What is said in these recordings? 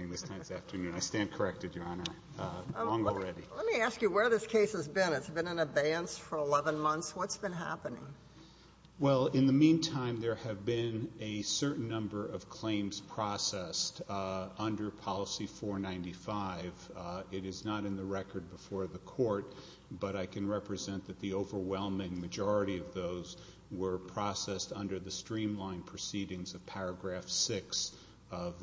I stand corrected, Your Honor, long already. Let me ask you where this case has been. It's been in abeyance for 11 months. What's been happening? Well, in the meantime, there have been a certain number of claims processed under Policy 495. It is not in the record before the Court, but I can represent that the overwhelming majority of those were processed under the streamlined proceedings of Paragraph 6 of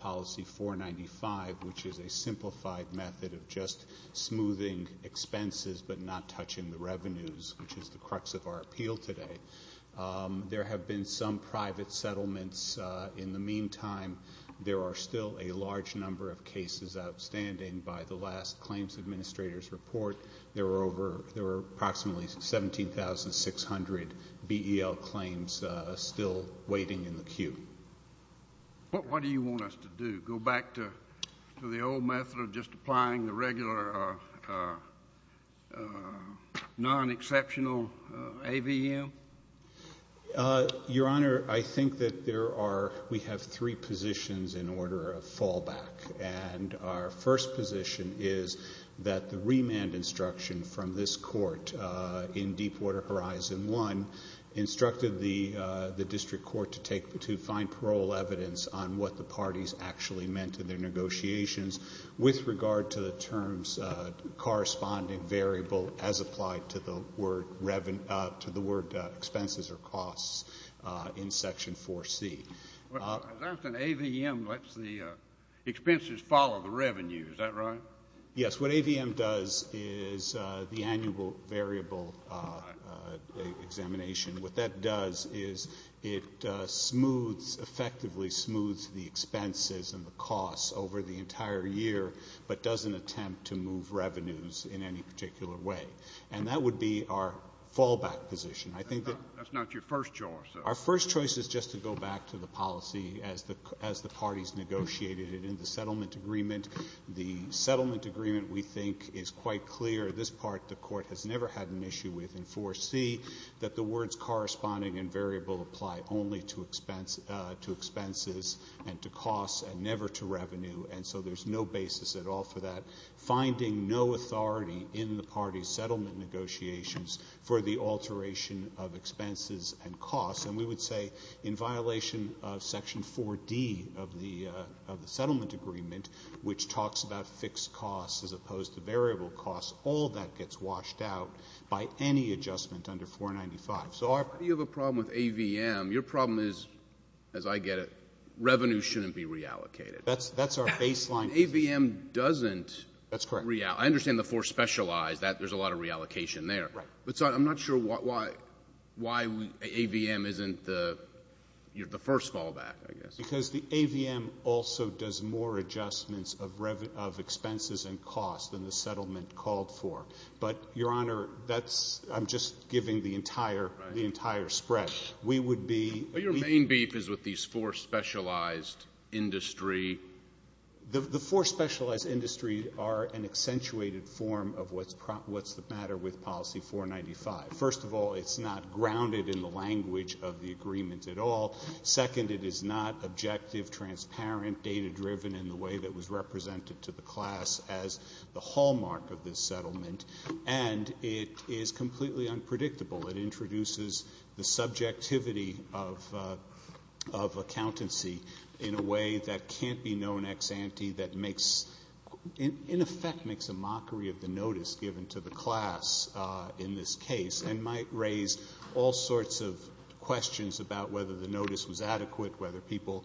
Policy 495, which is a simplified method of just smoothing expenses but not touching the revenues, which is the crux of our appeal today. There have been some private settlements. In the meantime, there are still a large number of cases outstanding. By the last Claims Administrator's Report, there were approximately 17,600 BEL claims still waiting in the queue. What do you want us to do, go back to the old method of just applying the regular non-exceptional AVM? Your Honor, I think that we have three positions in order of fallback. And our first position is that the remand instruction from this Court in Deepwater Horizon I instructed the district court to find parole evidence on what the parties actually meant in their negotiations with regard to the terms corresponding variable as applied to the word expenses or costs in Section 4C. As I understand, AVM lets the expenses follow the revenue. Is that right? Yes. What AVM does is the annual variable examination. What that does is it effectively smooths the expenses and the costs over the entire year but doesn't attempt to move revenues in any particular way. And that would be our fallback position. That's not your first choice. Our first choice is just to go back to the policy as the parties negotiated it in the settlement agreement. The settlement agreement, we think, is quite clear. This part the Court has never had an issue with in 4C that the words corresponding and variable apply only to expenses and to costs and never to revenue. And so there's no basis at all for that. settlement negotiations for the alteration of expenses and costs. And we would say in violation of Section 4D of the settlement agreement, which talks about fixed costs as opposed to variable costs, all that gets washed out by any adjustment under 495. So our ---- You have a problem with AVM. Your problem is, as I get it, revenue shouldn't be reallocated. That's our baseline. AVM doesn't reallocate. That's correct. I understand the four specialized, that there's a lot of reallocation there. Right. But I'm not sure why AVM isn't the first fallback, I guess. Because the AVM also does more adjustments of expenses and costs than the settlement called for. But, Your Honor, that's ---- I'm just giving the entire spread. We would be ---- But your main beef is with these four specialized industry. The four specialized industry are an accentuated form of what's the matter with Policy 495. First of all, it's not grounded in the language of the agreement at all. Second, it is not objective, transparent, data-driven in the way that was represented to the class as the hallmark of this settlement. And it is completely unpredictable. It introduces the subjectivity of accountancy in a way that can't be known ex ante, that makes ---- in effect makes a mockery of the notice given to the class in this case and might raise all sorts of questions about whether the notice was adequate, whether people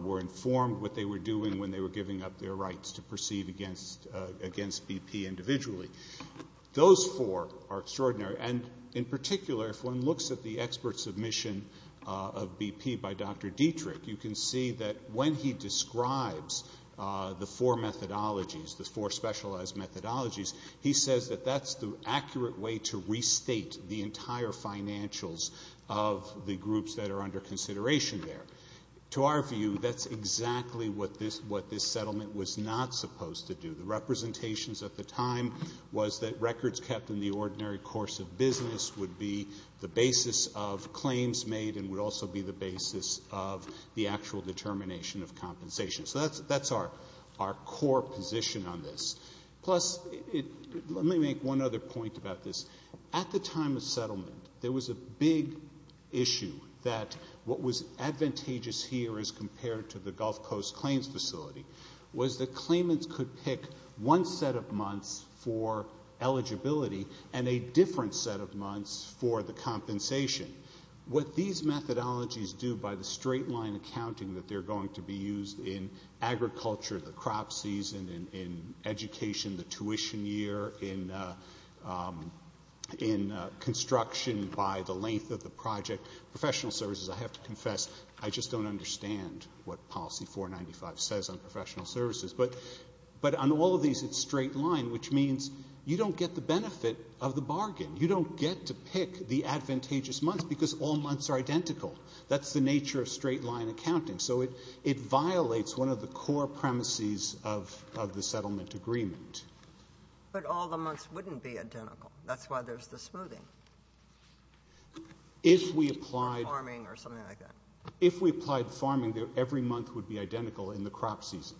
were informed what they were doing when they were giving up their rights to proceed against BP individually. Those four are extraordinary. And in particular, if one looks at the expert submission of BP by Dr. Dietrich, you can see that when he describes the four methodologies, the four specialized methodologies, he says that that's the accurate way to restate the entire financials of the groups that are under consideration there. To our view, that's exactly what this settlement was not supposed to do. The representations at the time was that records kept in the ordinary course of business would be the basis of claims made and would also be the basis of the actual determination of compensation. So that's our core position on this. Plus, let me make one other point about this. At the time of settlement, there was a big issue that what was advantageous here as compared to the Gulf Coast Claims Facility was that claimants could pick one set of months for eligibility and a different set of months for the compensation. What these methodologies do by the straight-line accounting that they're going to be used in agriculture, the crop season, in education, the tuition year, in construction by the length of the project, professional services, I have to confess, I just don't understand what Policy 495 says on professional services. But on all of these, it's straight-line, which means you don't get the benefit of the bargain. You don't get to pick the advantageous months because all months are identical. That's the nature of straight-line accounting. So it violates one of the core premises of the settlement agreement. But all the months wouldn't be identical. That's why there's the smoothing. If we applied farming, every month would be identical in the crop season.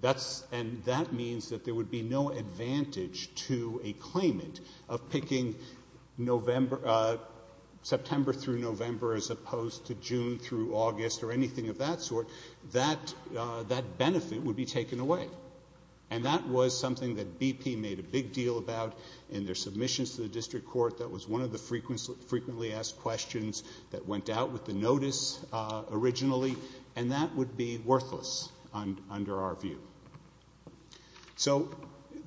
That means that there would be no advantage to a claimant of picking September through November as opposed to June through August or anything of that sort. That benefit would be taken away. And that was something that BP made a big deal about in their submissions to the district court that was one of the frequently asked questions that went out with the notice originally, and that would be worthless under our view. So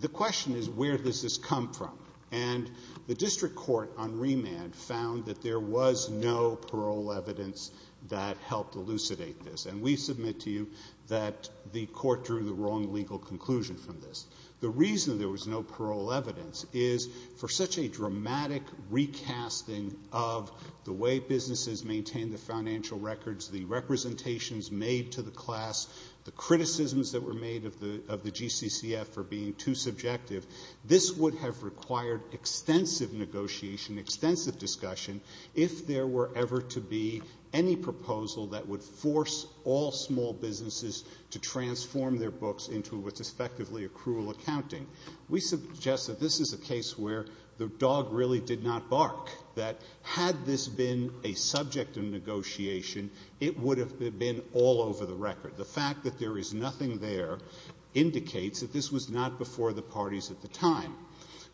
the question is where does this come from? And the district court on remand found that there was no parole evidence that helped elucidate this. And we submit to you that the court drew the wrong legal conclusion from this. The reason there was no parole evidence is for such a dramatic recasting of the way businesses maintain the financial records, the representations made to the class, the criticisms that were made of the GCCF for being too subjective. This would have required extensive negotiation, extensive discussion, if there were ever to be any proposal that would force all small businesses to transform their books into what's effectively a cruel accounting. We suggest that this is a case where the dog really did not bark, that had this been a subject of negotiation, it would have been all over the record. The fact that there is nothing there indicates that this was not before the parties at the time.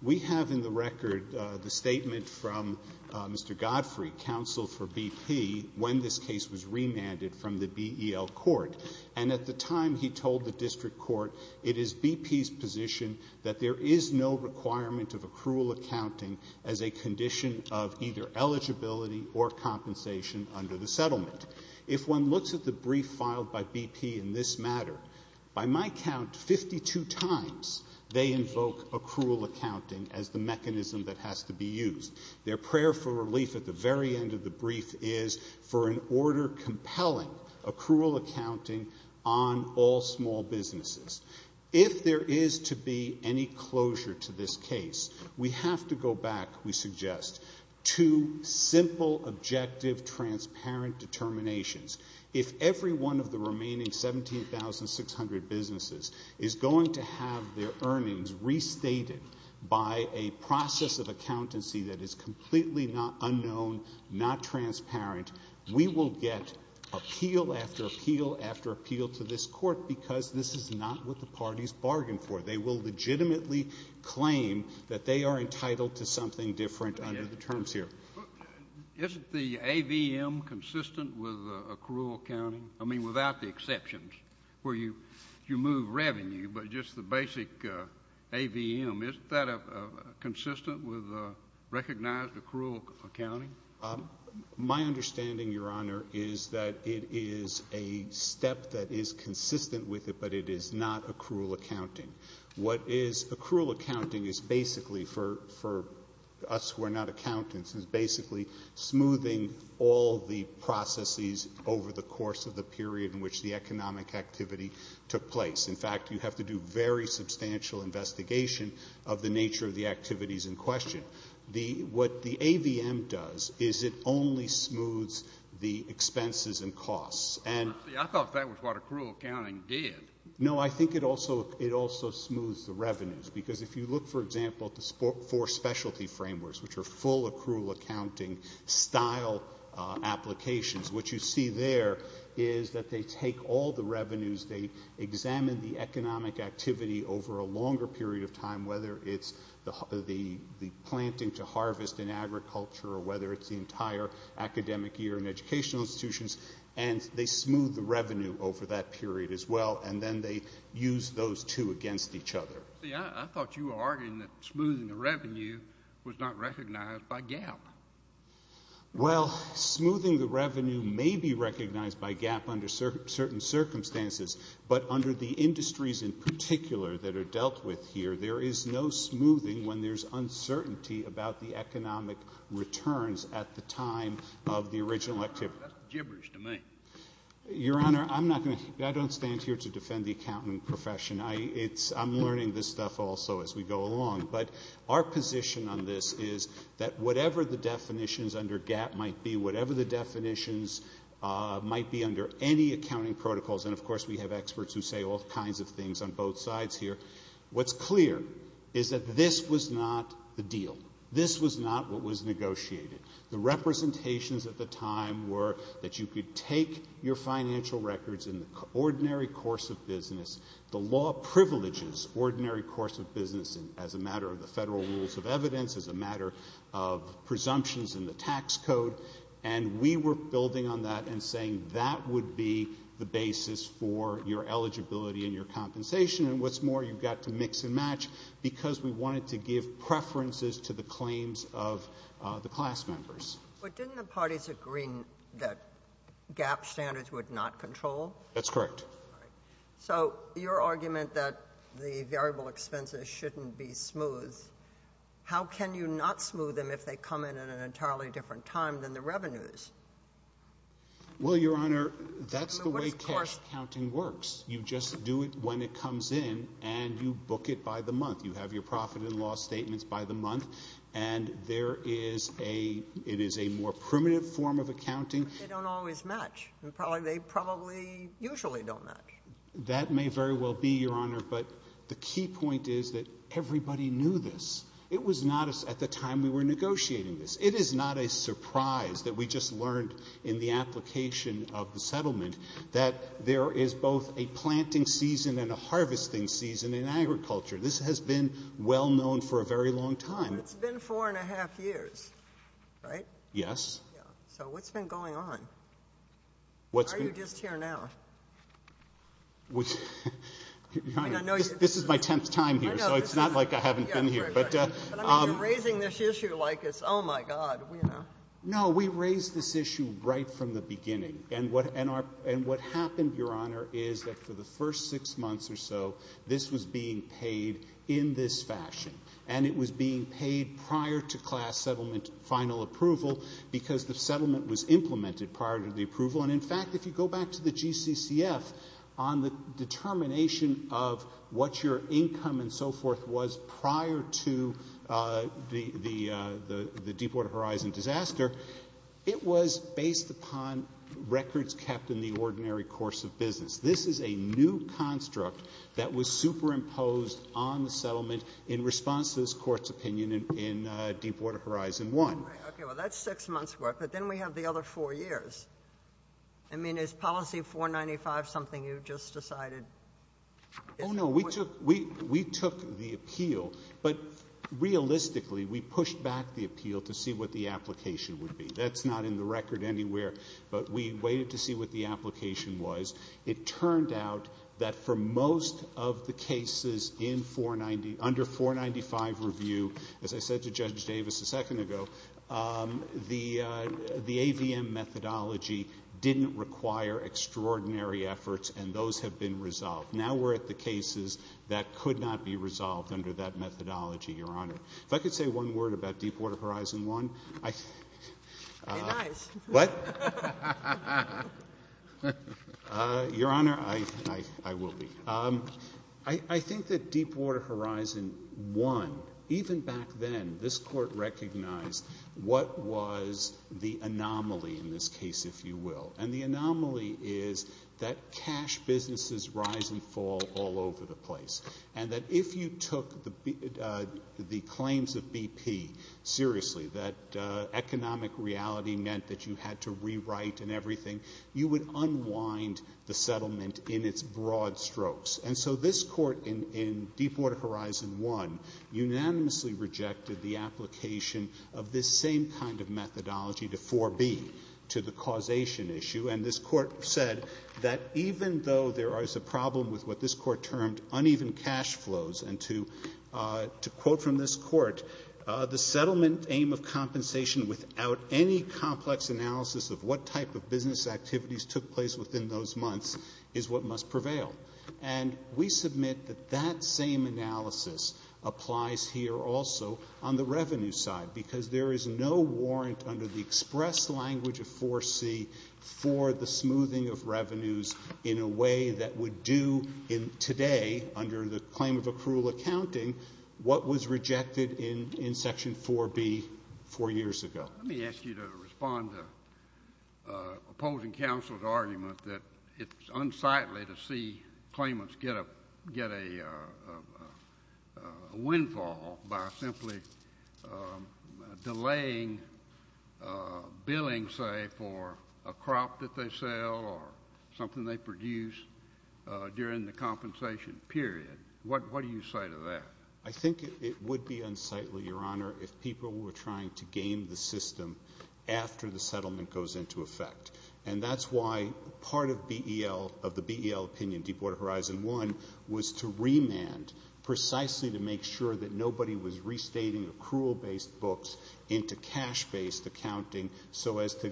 We have in the record the statement from Mr. Godfrey, counsel for BP, when this case was remanded from the BEL court. And at the time he told the district court, it is BP's position that there is no requirement of a cruel accounting as a condition of either eligibility or compensation under the settlement. If one looks at the brief filed by BP in this matter, by my count, 52 times they invoke a cruel accounting as the mechanism that has to be used. Their prayer for relief at the very end of the brief is for an order compelling a cruel accounting on all small businesses. If there is to be any closure to this case, we have to go back, we suggest, to simple, objective, transparent determinations. If every one of the remaining 17,600 businesses is going to have their earnings restated by a process of accountancy that is completely unknown, not transparent, we will get appeal after appeal after appeal to this court because this is not what the parties bargained for. They will legitimately claim that they are entitled to something different under the terms here. Isn't the AVM consistent with a cruel accounting? I mean, without the exceptions where you move revenue, but just the basic AVM, isn't that consistent with recognized a cruel accounting? My understanding, Your Honor, is that it is a step that is consistent with it, but it is not a cruel accounting. What is a cruel accounting is basically, for us who are not accountants, is basically smoothing all the processes over the course of the period in which the economic activity took place. In fact, you have to do very substantial investigation of the nature of the activities in question. What the AVM does is it only smooths the expenses and costs. I thought that was what a cruel accounting did. No, I think it also smooths the revenues because if you look, for example, at the four specialty frameworks, which are full of cruel accounting style applications, what you see there is that they take all the revenues, they examine the economic activity over a longer period of time, whether it's the planting to harvest in agriculture or whether it's the entire academic year in educational institutions, and they smooth the revenue over that period as well, and then they use those two against each other. See, I thought you were arguing that smoothing the revenue was not recognized by GAAP. Well, smoothing the revenue may be recognized by GAAP under certain circumstances, but under the industries in particular that are dealt with here, there is no smoothing when there's uncertainty about the economic returns at the time of the original activity. That's gibberish to me. Your Honor, I don't stand here to defend the accounting profession. I'm learning this stuff also as we go along. But our position on this is that whatever the definitions under GAAP might be, whatever the definitions might be under any accounting protocols, and of course we have experts who say all kinds of things on both sides here, what's clear is that this was not the deal. This was not what was negotiated. The representations at the time were that you could take your financial records in the ordinary course of business. The law privileges ordinary course of business as a matter of the Federal rules of evidence, as a matter of presumptions in the tax code, and we were building on that and saying that would be the basis for your eligibility and your compensation, and what's more, you've got to mix and match, because we wanted to give preferences to the claims of the class members. But didn't the parties agree that GAAP standards would not control? That's correct. So your argument that the variable expenses shouldn't be smooth, how can you not smooth them if they come in at an entirely different time than the revenues? Well, Your Honor, that's the way cash accounting works. You just do it when it comes in, and you book it by the month. You have your profit and loss statements by the month, and it is a more primitive form of accounting. They don't always match. They probably usually don't match. That may very well be, Your Honor, but the key point is that everybody knew this. It was not at the time we were negotiating this. It is not a surprise that we just learned in the application of the settlement that there is both a planting season and a harvesting season in agriculture. This has been well known for a very long time. It's been four and a half years, right? Yes. So what's been going on? Why are you just here now? This is my tenth time here, so it's not like I haven't been here. You're raising this issue like it's, oh, my God. No, we raised this issue right from the beginning, and what happened, Your Honor, is that for the first six months or so, this was being paid in this fashion, and it was being paid prior to class settlement final approval because the settlement was implemented prior to the approval. And, in fact, if you go back to the GCCF on the determination of what your income and so forth was prior to the Deepwater Horizon disaster, it was based upon records kept in the ordinary course of business. This is a new construct that was superimposed on the settlement in response to this Court's opinion in Deepwater Horizon 1. Okay. Well, that's six months' worth, but then we have the other four years. I mean, is Policy 495 something you've just decided? Oh, no. We took the appeal, but realistically, we pushed back the appeal to see what the application would be. That's not in the record anywhere, but we waited to see what the application was. It turned out that for most of the cases in 490, under 495 review, as I said to Judge the AVM methodology didn't require extraordinary efforts, and those have been resolved. Now we're at the cases that could not be resolved under that methodology, Your Honor. If I could say one word about Deepwater Horizon 1. Be nice. What? Your Honor, I will be. I think that Deepwater Horizon 1, even back then, this Court recognized what was the anomaly in this case, if you will, and the anomaly is that cash businesses rise and fall all over the place, and that if you took the claims of BP seriously, that economic reality meant that you had to rewrite and everything, you would unwind the settlement in its broad strokes. And so this Court in Deepwater Horizon 1 unanimously rejected the application of this same kind of methodology to 4B, to the causation issue, and this Court said that even though there is a problem with what this Court termed uneven cash flows, and to quote from this Court, the settlement aim of compensation without any complex analysis of what type of business activities took place within those months is what must prevail. And we submit that that same analysis applies here also on the revenue side, because there is no warrant under the express language of 4C for the smoothing of revenues in a way that would do today, under the claim of accrual accounting, what was rejected in Section 4B four years ago. Let me ask you to respond to opposing counsel's argument that it's unsightly to see claimants get a windfall by simply delaying billing, say, for a crop that they sell or something they produce during the compensation period. What do you say to that? I think it would be unsightly, Your Honor, if people were trying to game the system after the settlement goes into effect. And that's why part of BEL, of the BEL opinion, Deepwater Horizon 1, was to remand precisely to make sure that nobody was restating accrual-based books into cash-based accounting so as to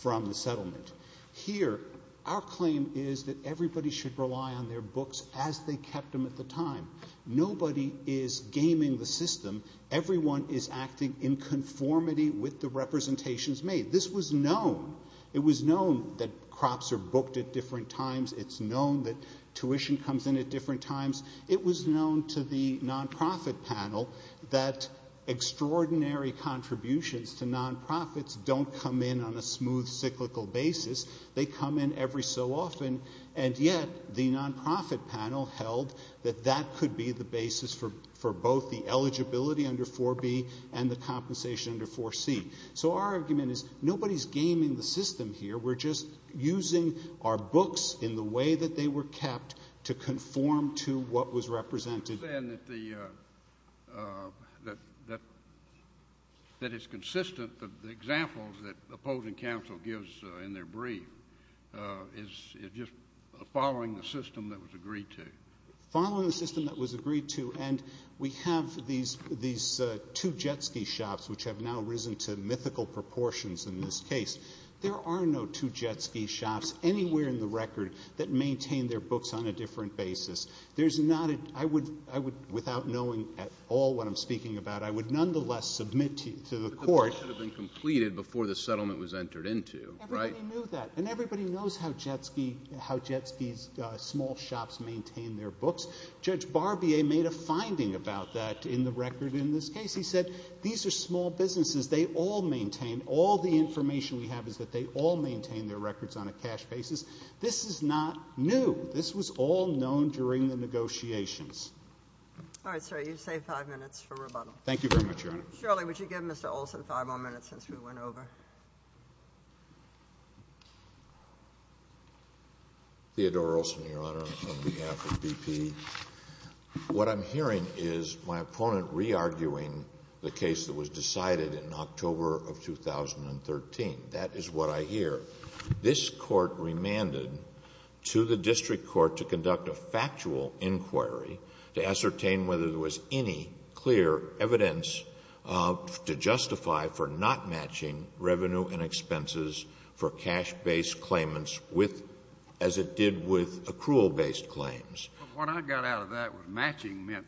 from the settlement. Here, our claim is that everybody should rely on their books as they kept them at the time. Nobody is gaming the system. Everyone is acting in conformity with the representations made. This was known. It was known that crops are booked at different times. It's known that tuition comes in at different times. It was known to the non-profit panel that extraordinary contributions to non-profits don't come in on a smooth, cyclical basis. They come in every so often. And yet, the non-profit panel held that that could be the basis for both the eligibility under 4B and the compensation under 4C. So our argument is nobody is gaming the system here. We're just using our books in the way that they were kept to conform to what was represented. You're saying that it's consistent, the examples that opposing counsel gives in their brief, is just following the system that was agreed to. Following the system that was agreed to, and we have these two jet ski shops, which have now risen to mythical proportions in this case. There are no two jet ski shops anywhere in the record that maintain their books on a different basis. There's not a ‑‑ I would, without knowing at all what I'm speaking about, I would nonetheless submit to the court. But the books should have been completed before the settlement was entered into, right? Everybody knew that, and everybody knows how jet skis, small shops maintain their books. Judge Barbier made a finding about that in the record in this case. He said these are small businesses. They all maintain, all the information we have is that they all maintain their records on a cash basis. This is not new. This was all known during the negotiations. All right, sir. You save five minutes for rebuttal. Thank you very much, Your Honor. Shirley, would you give Mr. Olson five more minutes since we went over? Theodore Olson, Your Honor, on behalf of BP. What I'm hearing is my opponent re-arguing the case that was decided in October of 2013. That is what I hear. This Court remanded to the district court to conduct a factual inquiry to ascertain whether there was any clear evidence to justify for not matching revenue and expenses for cash-based claimants as it did with accrual-based claims. What I got out of that was matching meant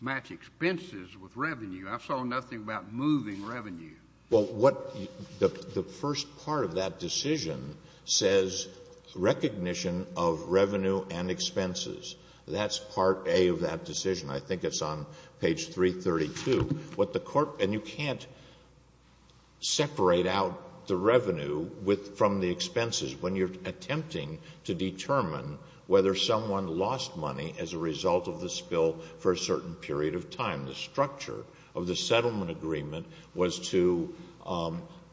match expenses with revenue. I saw nothing about moving revenue. Well, what the first part of that decision says recognition of revenue and expenses. That's part A of that decision. I think it's on page 332. What the court — and you can't separate out the revenue from the expenses when you're attempting to determine whether someone lost money as a result of the spill for a certain period of time. The structure of the settlement agreement was to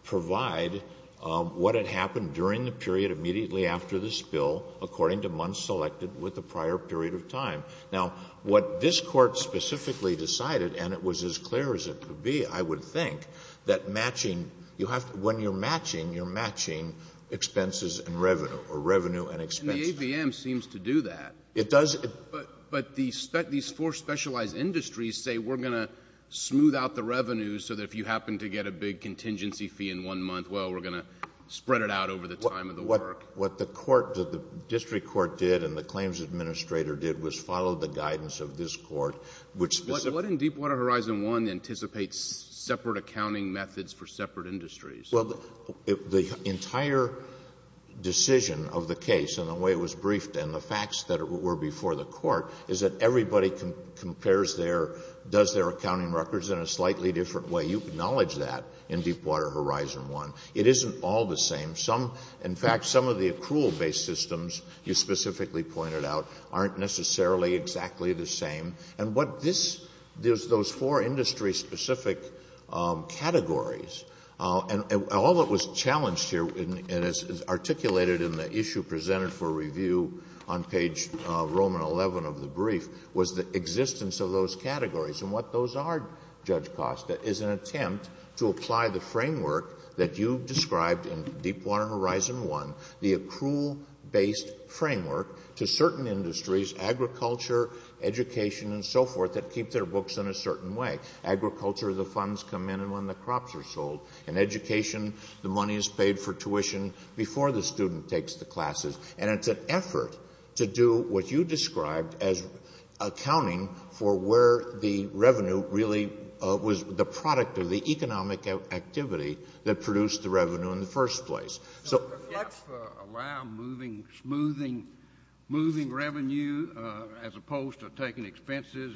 provide what had happened during the period immediately after the spill according to months selected with the prior period of time. Now, what this Court specifically decided, and it was as clear as it could be, I would think, that matching — when you're matching, you're matching expenses and revenue or revenue and expenses. And the ABM seems to do that. It does. But these four specialized industries say we're going to smooth out the revenues so that if you happen to get a big contingency fee in one month, well, we're going to spread it out over the time of the work. What the court — what the district court did and the claims administrator did was follow the guidance of this Court, which specifically — Well, the entire decision of the case and the way it was briefed and the facts that it were before the court is that everybody compares their — does their accounting records in a slightly different way. You acknowledge that in Deepwater Horizon 1. It isn't all the same. Some — in fact, some of the accrual-based systems you specifically pointed out aren't necessarily exactly the same. And what this — there's those four industry-specific categories. And all that was challenged here and is articulated in the issue presented for review on page Roman 11 of the brief was the existence of those categories. And what those are, Judge Costa, is an attempt to apply the framework that you've described in Deepwater Horizon 1, the accrual-based framework, to certain industries, agriculture, education, and so forth, that keep their books in a certain way. Agriculture, the funds come in when the crops are sold. In education, the money is paid for tuition before the student takes the classes. And it's an effort to do what you described as accounting for where the revenue really was the product of the economic activity that produced the revenue in the first place. So does GAFSA allow moving revenue as opposed to taking expenses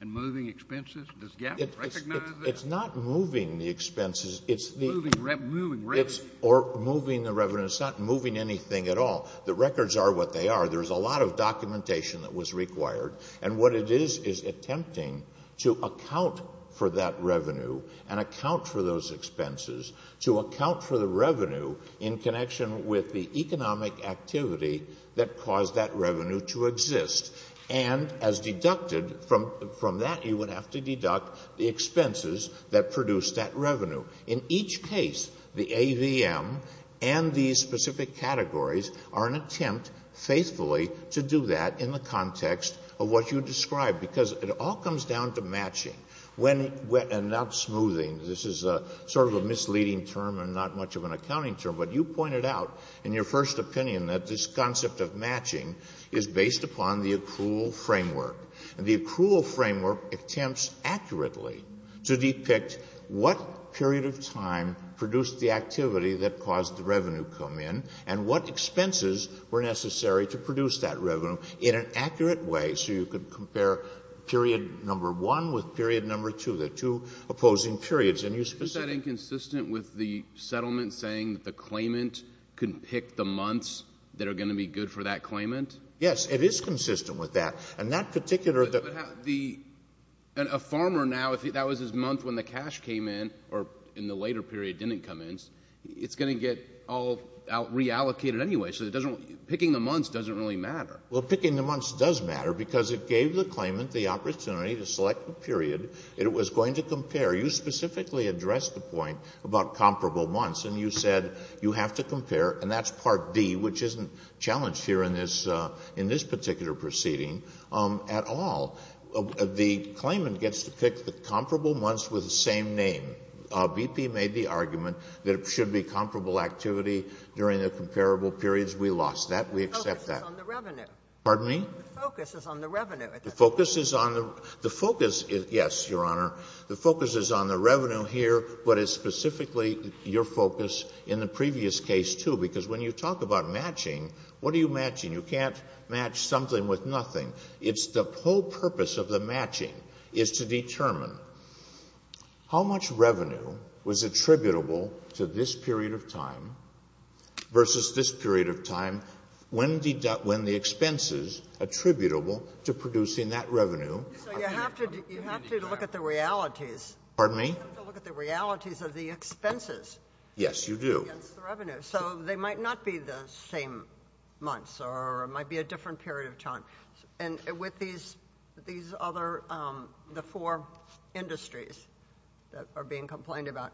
and moving expenses? Does GAFSA recognize that? It's not moving the expenses. It's the — Moving revenue. Or moving the revenue. It's not moving anything at all. The records are what they are. There's a lot of documentation that was required. And what it is is attempting to account for that revenue and account for those expenses, to account for the revenue in connection with the economic activity that caused that revenue to exist. And as deducted from that, you would have to deduct the expenses that produced that revenue. In each case, the AVM and these specific categories are an attempt, faithfully, to do that in the context of what you described, because it all comes down to matching. And not smoothing. This is sort of a misleading term and not much of an accounting term. But you pointed out in your first opinion that this concept of matching is based upon the accrual framework. And the accrual framework attempts accurately to depict what period of time produced the activity that caused the revenue to come in and what expenses were necessary to produce that revenue in an accurate way so you could compare period number one with period number two, the two opposing periods. And you specifically. Isn't that inconsistent with the settlement saying that the claimant can pick the months that are going to be good for that claimant? Yes, it is consistent with that. And that particular – But a farmer now, if that was his month when the cash came in or in the later period didn't come in, it's going to get all reallocated anyway. So picking the months doesn't really matter. Well, picking the months does matter because it gave the claimant the opportunity to select the period it was going to compare. You specifically addressed the point about comparable months, and you said you have to compare, and that's Part D, which isn't challenged here in this particular proceeding at all. The claimant gets to pick the comparable months with the same name. BP made the argument that it should be comparable activity during the comparable periods. We lost that. We accept that. The focus is on the revenue. Pardon me? The focus is on the revenue. The focus is on the – the focus – yes, Your Honor. The focus is on the revenue here, but it's specifically your focus in the previous case, too, because when you talk about matching, what are you matching? You can't match something with nothing. It's the whole purpose of the matching is to determine how much revenue was attributable to this period of time versus this period of time when the expenses attributable to producing that revenue. So you have to look at the realities. Pardon me? You have to look at the realities of the expenses. Yes, you do. Against the revenue. So they might not be the same months or it might be a different period of time. And with these other – the four industries that are being complained about,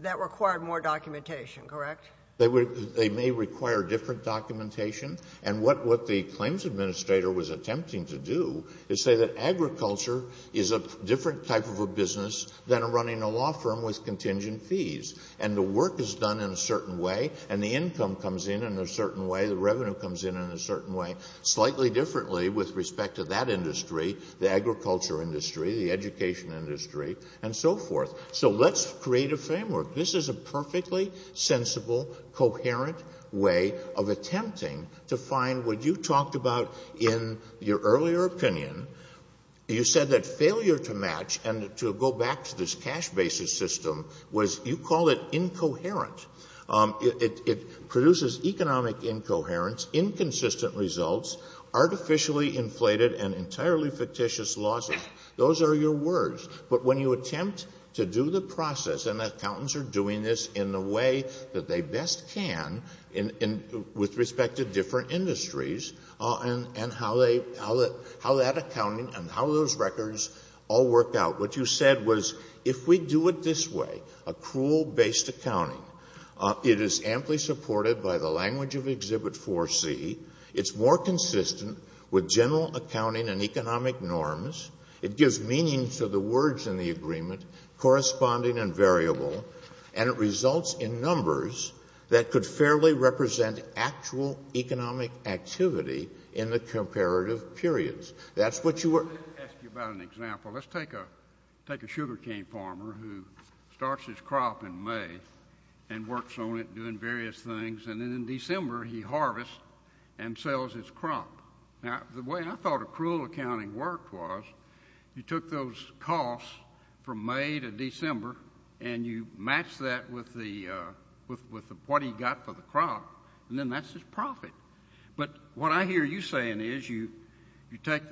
that required more documentation, correct? They may require different documentation. And what the claims administrator was attempting to do is say that agriculture is a different type of a business than running a law firm with contingent fees. And the work is done in a certain way and the income comes in in a certain way, the revenue comes in in a certain way, slightly differently with respect to that industry, the agriculture industry, the education industry, and so forth. So let's create a framework. This is a perfectly sensible, coherent way of attempting to find what you talked about in your earlier opinion. You said that failure to match and to go back to this cash basis system was – you call it incoherent. It produces economic incoherence, inconsistent results, artificially inflated and entirely fictitious losses. Those are your words. But when you attempt to do the process, and accountants are doing this in the way that they best can with respect to different industries and how that accounting and how those records all work out. What you said was if we do it this way, accrual-based accounting, it is amply supported by the language of Exhibit 4C. It's more consistent with general accounting and economic norms. It gives meaning to the words in the agreement, corresponding and variable. And it results in numbers that could fairly represent actual economic activity in the comparative periods. That's what you were – Let me ask you about an example. Let's take a sugar cane farmer who starts his crop in May and works on it, doing various things. And then in December, he harvests and sells his crop. Now, the way I thought accrual accounting worked was you took those costs from May to December and you matched that with what he got for the crop, and then that's his profit. But what I hear you saying is you take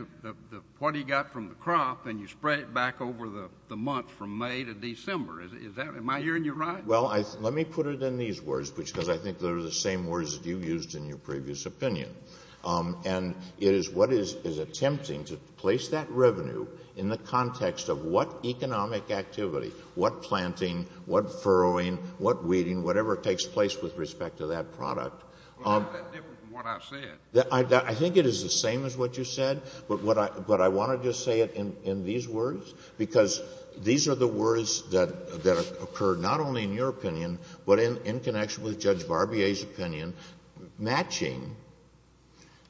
what he got from the crop and you spread it back over the month from May to December. Am I hearing you right? Well, let me put it in these words, because I think they're the same words that you used in your previous opinion. And it is what is attempting to place that revenue in the context of what economic activity, what planting, what furrowing, what weeding, whatever takes place with respect to that product. Why is that different from what I said? I think it is the same as what you said, but I want to just say it in these words, because these are the words that occurred not only in your opinion, but in connection with Judge Barbier's opinion, matching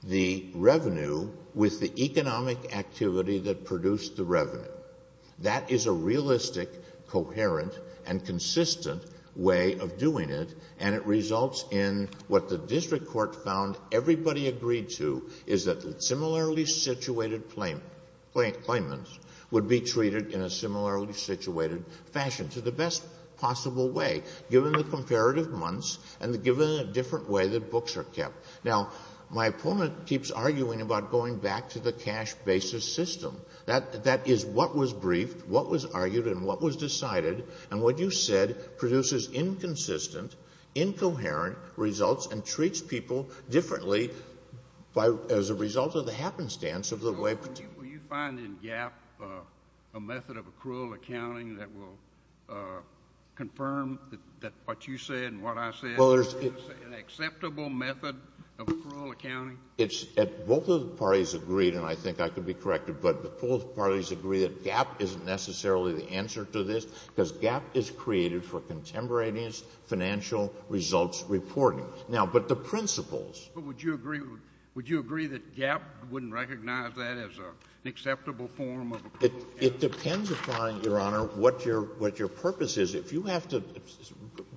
the revenue with the economic activity that produced the revenue. That is a realistic, coherent, and consistent way of doing it, and it results in what the district court found everybody agreed to, is that similarly situated claimants would be treated in a similarly situated fashion, to the best possible way, given the comparative months and given a different way that books are kept. Now, my opponent keeps arguing about going back to the cash basis system. That is what was briefed, what was argued, and what was decided, and what you said produces inconsistent, incoherent results and treats people differently as a result of the happenstance of the way. Will you find in GAAP a method of accrual accounting that will confirm what you said and what I said, an acceptable method of accrual accounting? Both of the parties agreed, and I think I could be corrected, but both parties agree that GAAP isn't necessarily the answer to this because GAAP is created for contemporaneous financial results reporting. Now, but the principles. But would you agree that GAAP wouldn't recognize that as an acceptable form of accrual accounting? It depends upon, Your Honor, what your purpose is. If you have to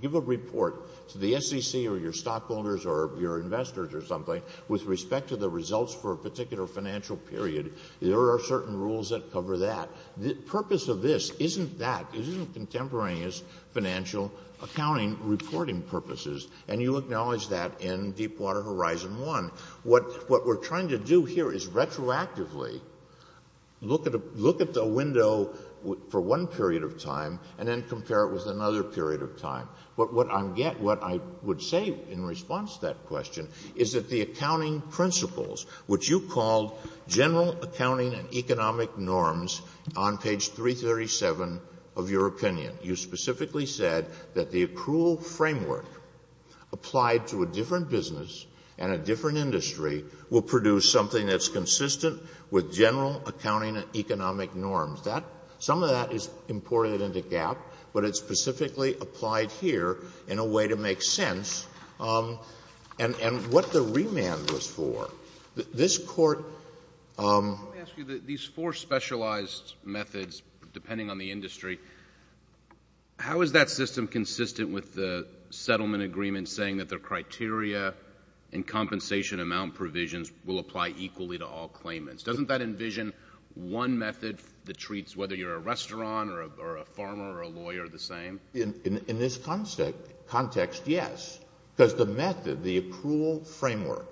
give a report to the SEC or your stockholders or your investors or something with respect to the results for a particular financial period, there are certain rules that cover that. The purpose of this isn't that. It isn't contemporaneous financial accounting reporting purposes, and you acknowledge that in Deepwater Horizon 1. What we're trying to do here is retroactively look at the window for one period of time and then compare it with another period of time. But what I would say in response to that question is that the accounting principles, which you called general accounting and economic norms on page 337 of your opinion, you specifically said that the accrual framework applied to a different business and a different industry will produce something that's consistent with general accounting and economic norms. Some of that is imported into GAAP, but it's specifically applied here in a way to make sense. And what the remand was for. This Court — Let me ask you. These four specialized methods, depending on the industry, how is that system consistent with the settlement agreement saying that the criteria and compensation amount provisions will apply equally to all claimants? Doesn't that envision one method that treats whether you're a restaurant or a farmer or a lawyer the same? In this context, yes. Because the method, the accrual framework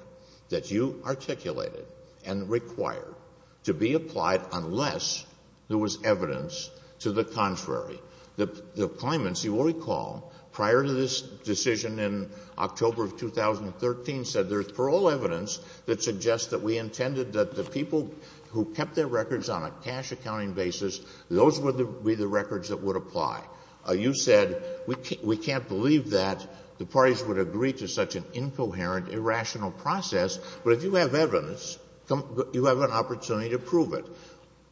that you articulated and required to be applied unless there was evidence to the contrary. The claimants, you will recall, prior to this decision in October of 2013, said there's parole evidence that suggests that we intended that the people who kept their records on a cash accounting basis, those would be the records that would apply. You said we can't believe that the parties would agree to such an incoherent, irrational process, but if you have evidence, you have an opportunity to prove it.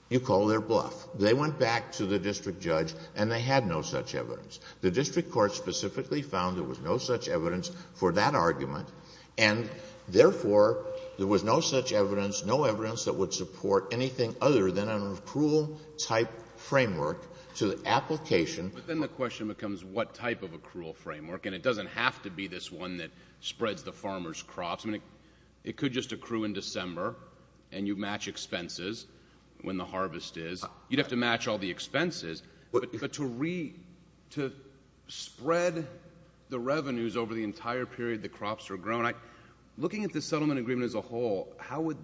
You call their bluff. They went back to the district judge and they had no such evidence. The district court specifically found there was no such evidence for that argument, and therefore there was no such evidence, no evidence that would support anything other than an accrual-type framework to the application. But then the question becomes what type of accrual framework, and it doesn't have to be this one that spreads the farmer's crops. I mean, it could just accrue in December and you match expenses when the harvest is. You'd have to match all the expenses. But to spread the revenues over the entire period the crops are grown, looking at the settlement agreement as a whole, how would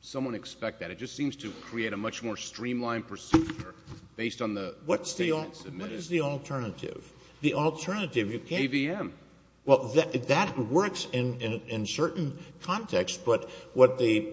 someone expect that? It just seems to create a much more streamlined procedure based on the statements submitted. What is the alternative? The alternative, you can't. AVM. Well, that works in certain contexts, but what the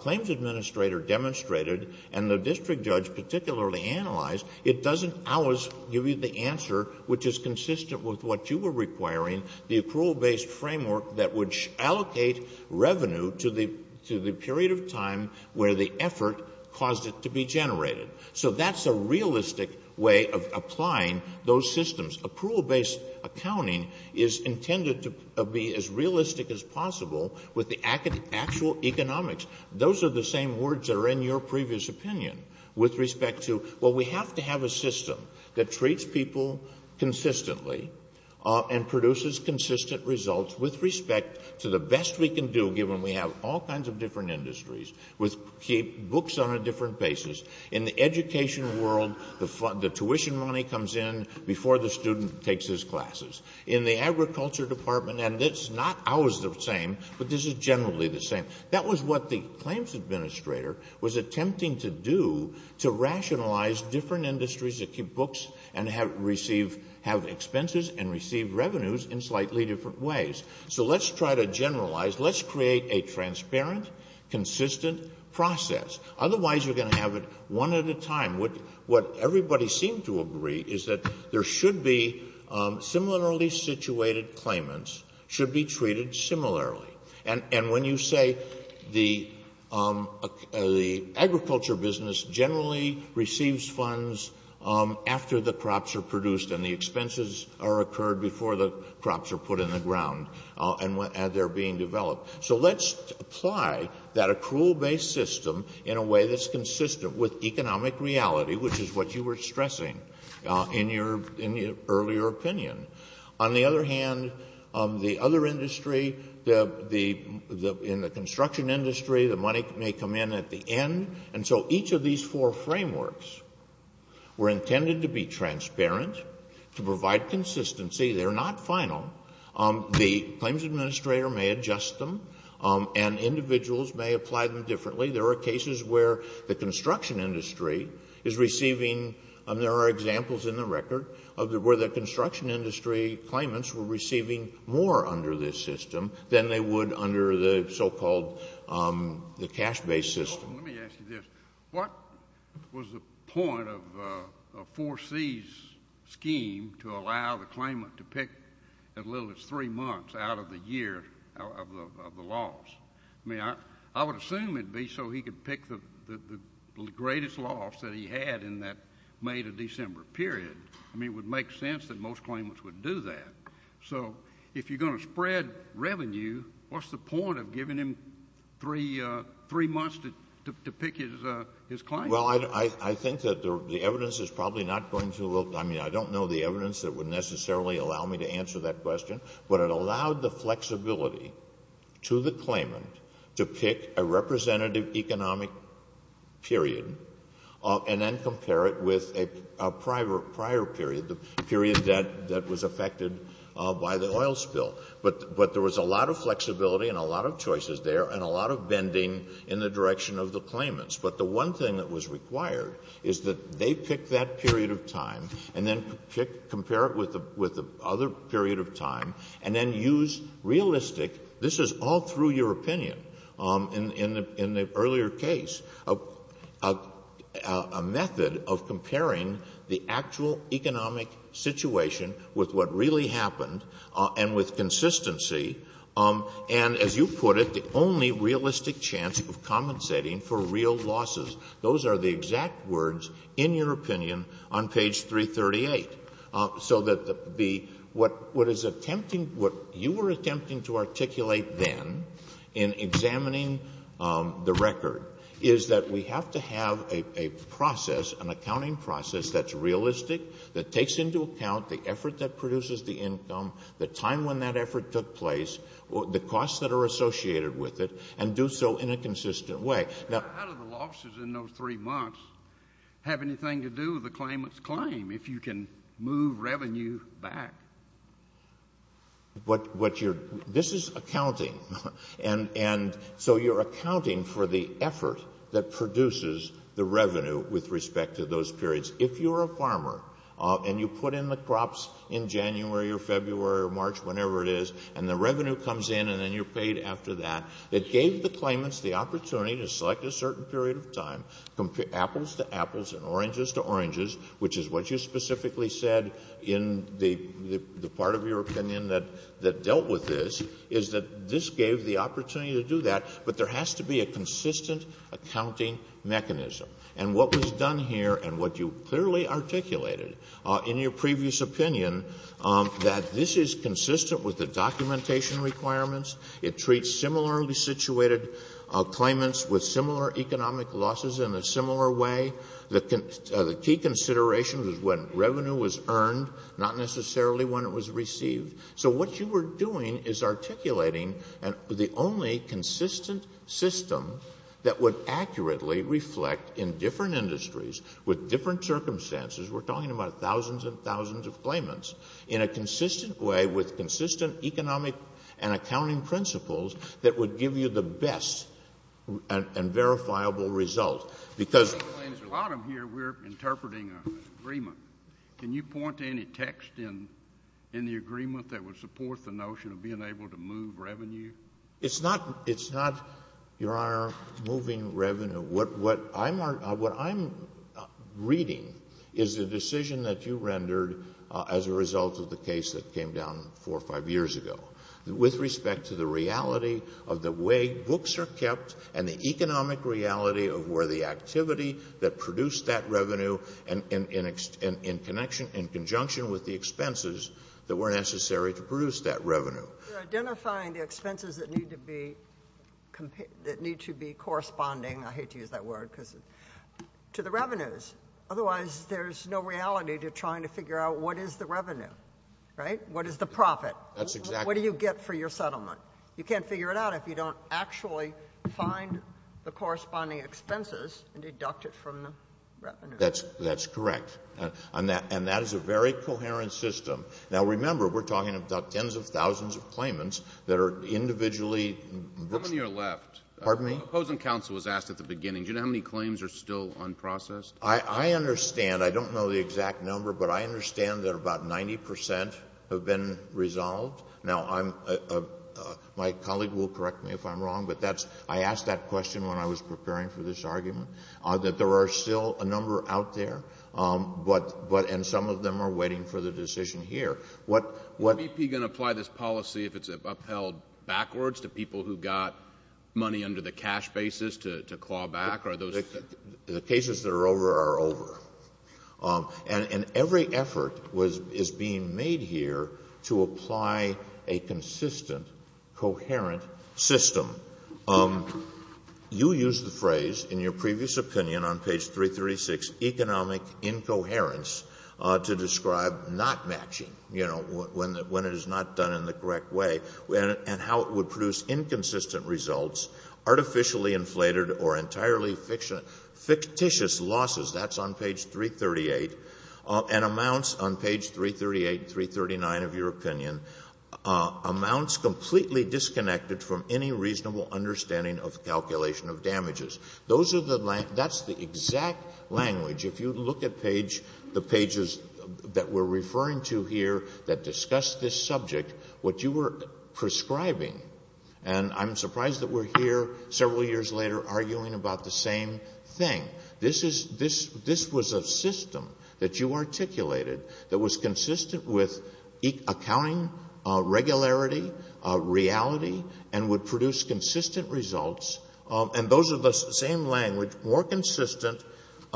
claims administrator demonstrated and the district judge particularly analyzed, it doesn't always give you the answer which is consistent with what you were requiring, the accrual-based framework that would allocate revenue to the period of time where the effort caused it to be generated. So that's a realistic way of applying those systems. Accrual-based accounting is intended to be as realistic as possible with the actual economics. Those are the same words that are in your previous opinion with respect to, well, we have to have a system that treats people consistently and produces consistent results with respect to the best we can do given we have all kinds of different industries with books on a different basis. In the education world, the tuition money comes in before the student takes his classes. In the agriculture department, and it's not always the same, but this is generally the same. That was what the claims administrator was attempting to do to rationalize different industries that keep books and have expenses and receive revenues in slightly different ways. So let's try to generalize. Let's create a transparent, consistent process. Otherwise, you're going to have it one at a time. What everybody seemed to agree is that there should be similarly situated claimants should be treated similarly. And when you say the agriculture business generally receives funds after the crops are produced and the expenses are occurred before the crops are put in the ground and they're being developed. So let's apply that accrual-based system in a way that's consistent with economic reality, which is what you were stressing in your earlier opinion. On the other hand, the other industry, in the construction industry, the money may come in at the end. And so each of these four frameworks were intended to be transparent, to provide consistency. They're not final. The claims administrator may adjust them. And individuals may apply them differently. There are cases where the construction industry is receiving, and there are examples in the record, where the construction industry claimants were receiving more under this system than they would under the so-called cash-based system. Let me ask you this. What was the point of 4C's scheme to allow the claimant to pick as little as three months out of the year of the loss? I mean, I would assume it would be so he could pick the greatest loss that he had in that May to December period. I mean, it would make sense that most claimants would do that. So if you're going to spread revenue, what's the point of giving him three months to pick his claim? Well, I think that the evidence is probably not going to look – I mean, I don't know the evidence that would necessarily allow me to answer that question. But it allowed the flexibility to the claimant to pick a representative economic period and then compare it with a prior period, the period that was affected by the oil spill. But there was a lot of flexibility and a lot of choices there and a lot of bending in the direction of the claimants. But the one thing that was required is that they pick that period of time and then compare it with the other period of time and then use realistic – this is all through your opinion in the earlier case – a method of comparing the actual economic situation with what really happened and with consistency, and as you put it, the only realistic chance of compensating for real losses. Those are the exact words, in your opinion, on page 338. So that the – what is attempting – what you were attempting to articulate then in examining the record is that we have to have a process, an accounting process, that's realistic, that takes into account the effort that produces the income, the time when that effort took place, the costs that are associated with it, and do so in a consistent way. Now – But how do the losses in those three months have anything to do with the claimant's claim if you can move revenue back? What you're – this is accounting, and so you're accounting for the effort that produces the revenue with respect to those periods. If you're a farmer and you put in the crops in January or February or March, whenever it is, and the revenue comes in and then you're paid after that, it gave the claimants the opportunity to select a certain period of time, apples to apples and oranges to oranges, which is what you specifically said in the part of your opinion that dealt with this, is that this gave the opportunity to do that, but there has to be a consistent accounting mechanism. And what was done here, and what you clearly articulated in your previous opinion, that this is consistent with the documentation requirements. It treats similarly situated claimants with similar economic losses in a similar way. The key consideration was when revenue was earned, not necessarily when it was received. So what you were doing is articulating the only consistent system that would accurately reflect in different industries with different circumstances – we're talking about thousands and thousands of claimants – in a consistent way with consistent economic and accounting principles that would give you the best and verifiable result. Because – A lot of them here we're interpreting an agreement. Can you point to any text in the agreement that would support the notion of being able to move revenue? It's not, Your Honor, moving revenue. What I'm reading is the decision that you rendered as a result of the case that came down four or five years ago with respect to the reality of the way books are kept and the economic reality of where the activity that produced that revenue in connection – in conjunction with the expenses that were necessary to produce that revenue. You're identifying the expenses that need to be – that need to be corresponding – I hate to use that word because – to the revenues. Otherwise, there's no reality to trying to figure out what is the revenue, right? What is the profit? That's exactly right. What do you get for your settlement? You can't figure it out if you don't actually find the corresponding expenses and deduct it from the revenue. That's correct. And that is a very coherent system. Now, remember, we're talking about tens of thousands of claimants that are individually – How many are left? Pardon me? Opposing counsel was asked at the beginning. Do you know how many claims are still unprocessed? I understand. I don't know the exact number, but I understand that about 90 percent have been resolved. Now, I'm – my colleague will correct me if I'm wrong, but that's – I asked that question when I was preparing for this argument, that there are still a number out there. But – and some of them are waiting for the decision here. What – Is BP going to apply this policy if it's upheld backwards to people who got money under the cash basis to claw back? Are those – The cases that are over are over. And every effort is being made here to apply a consistent, coherent system. You used the phrase, in your previous opinion, on page 336, economic incoherence, to describe not matching, you know, when it is not done in the correct way, and how it would produce inconsistent results, artificially inflated or entirely fictitious losses. That's on page 338. And amounts on page 338 and 339 of your opinion, amounts completely disconnected from any reasonable understanding of calculation of damages. Those are the – that's the exact language. If you look at page – the pages that we're referring to here that discuss this subject, what you were prescribing – and I'm surprised that we're here several years later arguing about the same thing. This is – this was a system that you articulated that was consistent with accounting, regularity, reality, and would produce consistent results. And those are the same language, more consistent –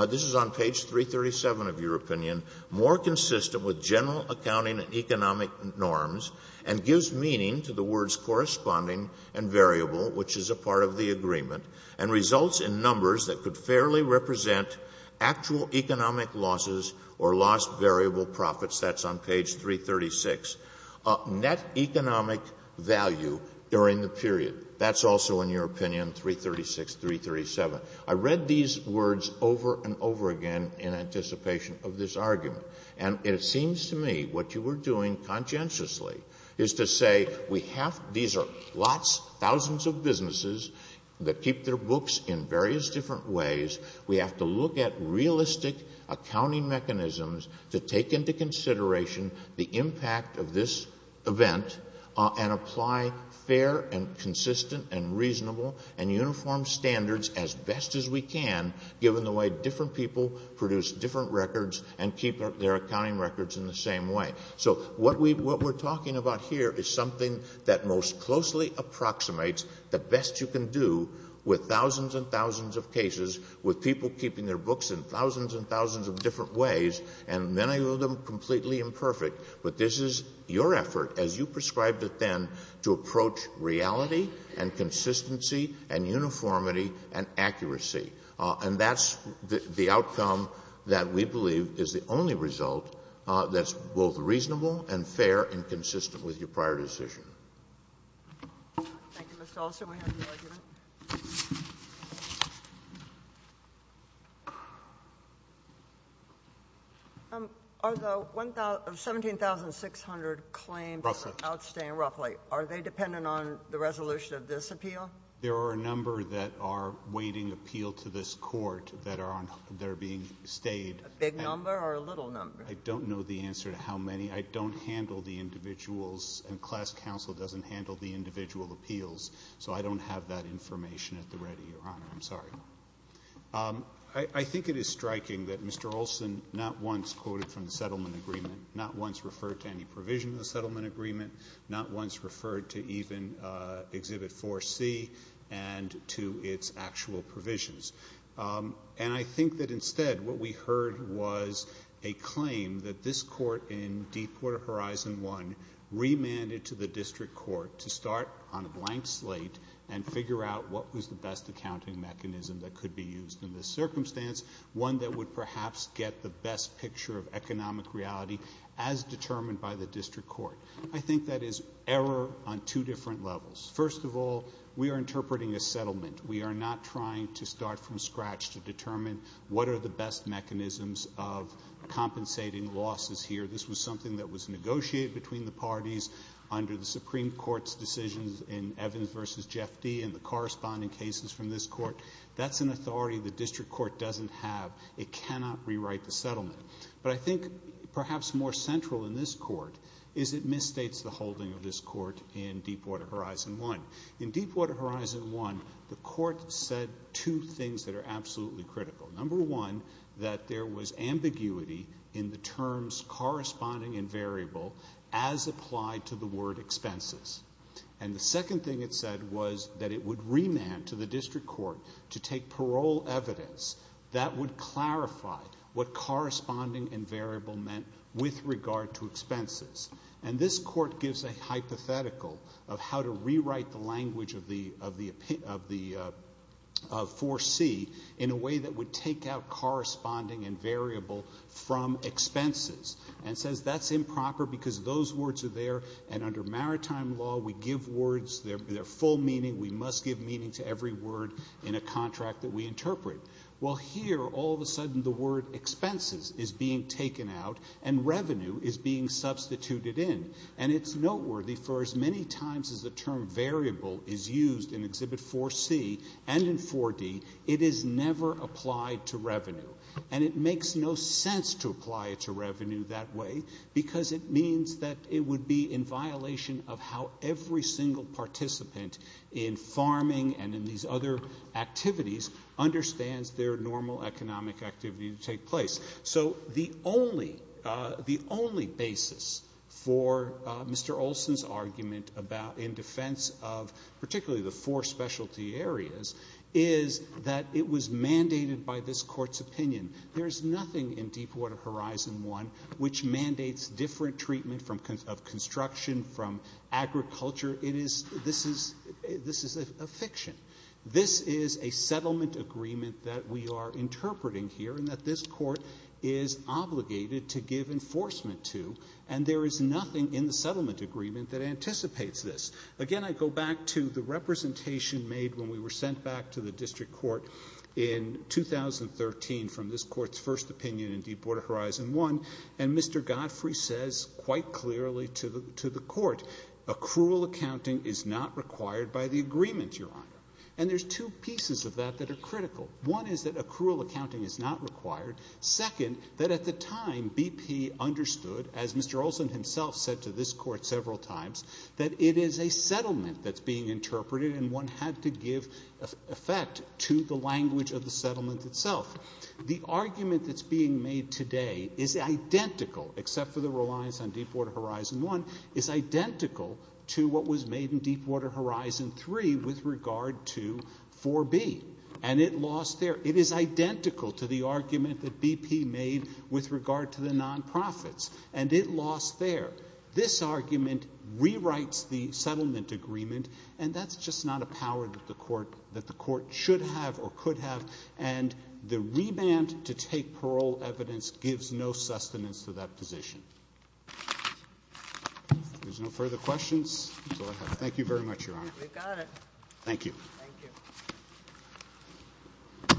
this is on page 337 of your opinion – more consistent with general accounting and economic norms, and gives meaning to the words corresponding and variable, which is a part of the agreement, and results in numbers that could fairly represent actual economic losses or lost variable profits. That's on page 336. Net economic value during the period. That's also in your opinion, 336, 337. I read these words over and over again in anticipation of this argument. And it seems to me what you were doing conscientiously is to say we have – these are lots, thousands of businesses that keep their books in various different ways. We have to look at realistic accounting mechanisms to take into consideration the impact of this event and apply fair and consistent and reasonable and uniform standards as best as we can, given the way different people produce different records and keep their accounting records in the same way. So what we're talking about here is something that most closely approximates the best you can do with thousands and thousands of cases with people keeping their books in thousands and thousands of different ways and many of them completely imperfect. But this is your effort, as you prescribed it then, to approach reality and consistency and uniformity and accuracy. And that's the outcome that we believe is the only result that's both reasonable and fair and consistent with your prior decision. Thank you, Mr. Olson. We have your argument. Are the 17,600 claims outstanding, roughly? Are they dependent on the resolution of this appeal? There are a number that are awaiting appeal to this court that are being stayed. A big number or a little number? I don't know the answer to how many. I don't handle the individuals and class counsel doesn't handle the individual appeals. So I don't have that information at the ready, Your Honor. I'm sorry. I think it is striking that Mr. Olson not once quoted from the settlement agreement, not once referred to any provision of the settlement agreement, not once referred to even Exhibit 4C and to its actual provisions. And I think that instead what we heard was a claim that this court in Deepwater Horizon 1 remanded to the district court to start on a blank slate and figure out what was the best accounting mechanism that could be used in this circumstance, one that would perhaps get the best picture of economic reality as determined by the district court. I think that is error on two different levels. First of all, we are interpreting a settlement. We are not trying to start from scratch to determine what are the best mechanisms of compensating losses here. This was something that was negotiated between the parties under the Supreme Court's decisions in Evans v. Jeff Dee and the corresponding cases from this court. That's an authority the district court doesn't have. It cannot rewrite the settlement. But I think perhaps more central in this court is it misstates the holding of this court in Deepwater Horizon 1. In Deepwater Horizon 1, the court said two things that are absolutely critical. Number one, that there was ambiguity in the terms corresponding and variable as applied to the word expenses. And the second thing it said was that it would remand to the district court to take parole evidence that would clarify what corresponding and variable meant with regard to expenses. And this court gives a hypothetical of how to rewrite the language of the 4C in a way that would take out corresponding and variable from expenses and says that's improper because those words are there and under maritime law we give words, they're full meaning, we must give meaning to every word in a contract that we interpret. Well, here all of a sudden the word expenses is being taken out and revenue is being substituted in. And it's noteworthy for as many times as the term variable is used in Exhibit 4C and in 4D, it is never applied to revenue. And it makes no sense to apply it to revenue that way because it means that it would be in violation of how every single participant in farming and in these other activities understands their normal economic activity to take place. So the only basis for Mr. Olson's argument in defense of particularly the four specialty areas is that it was mandated by this court's opinion. There is nothing in Deepwater Horizon 1 which mandates different treatment of construction from agriculture. This is a fiction. This is a settlement agreement that we are interpreting here and that this court is obligated to give enforcement to and there is nothing in the settlement agreement that anticipates this. Again, I go back to the representation made when we were sent back to the district court in 2013 from this court's first opinion in Deepwater Horizon 1 and Mr. Godfrey says quite clearly to the court, accrual accounting is not required by the agreement, Your Honor. And there's two pieces of that that are critical. One is that accrual accounting is not required. Second, that at the time BP understood, as Mr. Olson himself said to this court several times, that it is a settlement that's being interpreted and one had to give effect to the language of the settlement itself. The argument that's being made today is identical, except for the reliance on Deepwater Horizon 1, is identical to what was made in Deepwater Horizon 3 with regard to 4B and it lost there. It is identical to the argument that BP made with regard to the non-profits and it lost there. This argument rewrites the settlement agreement and that's just not a power that the court should have or could have and the reband to take parole evidence gives no sustenance to that position. If there's no further questions, thank you very much, Your Honor. Thank you.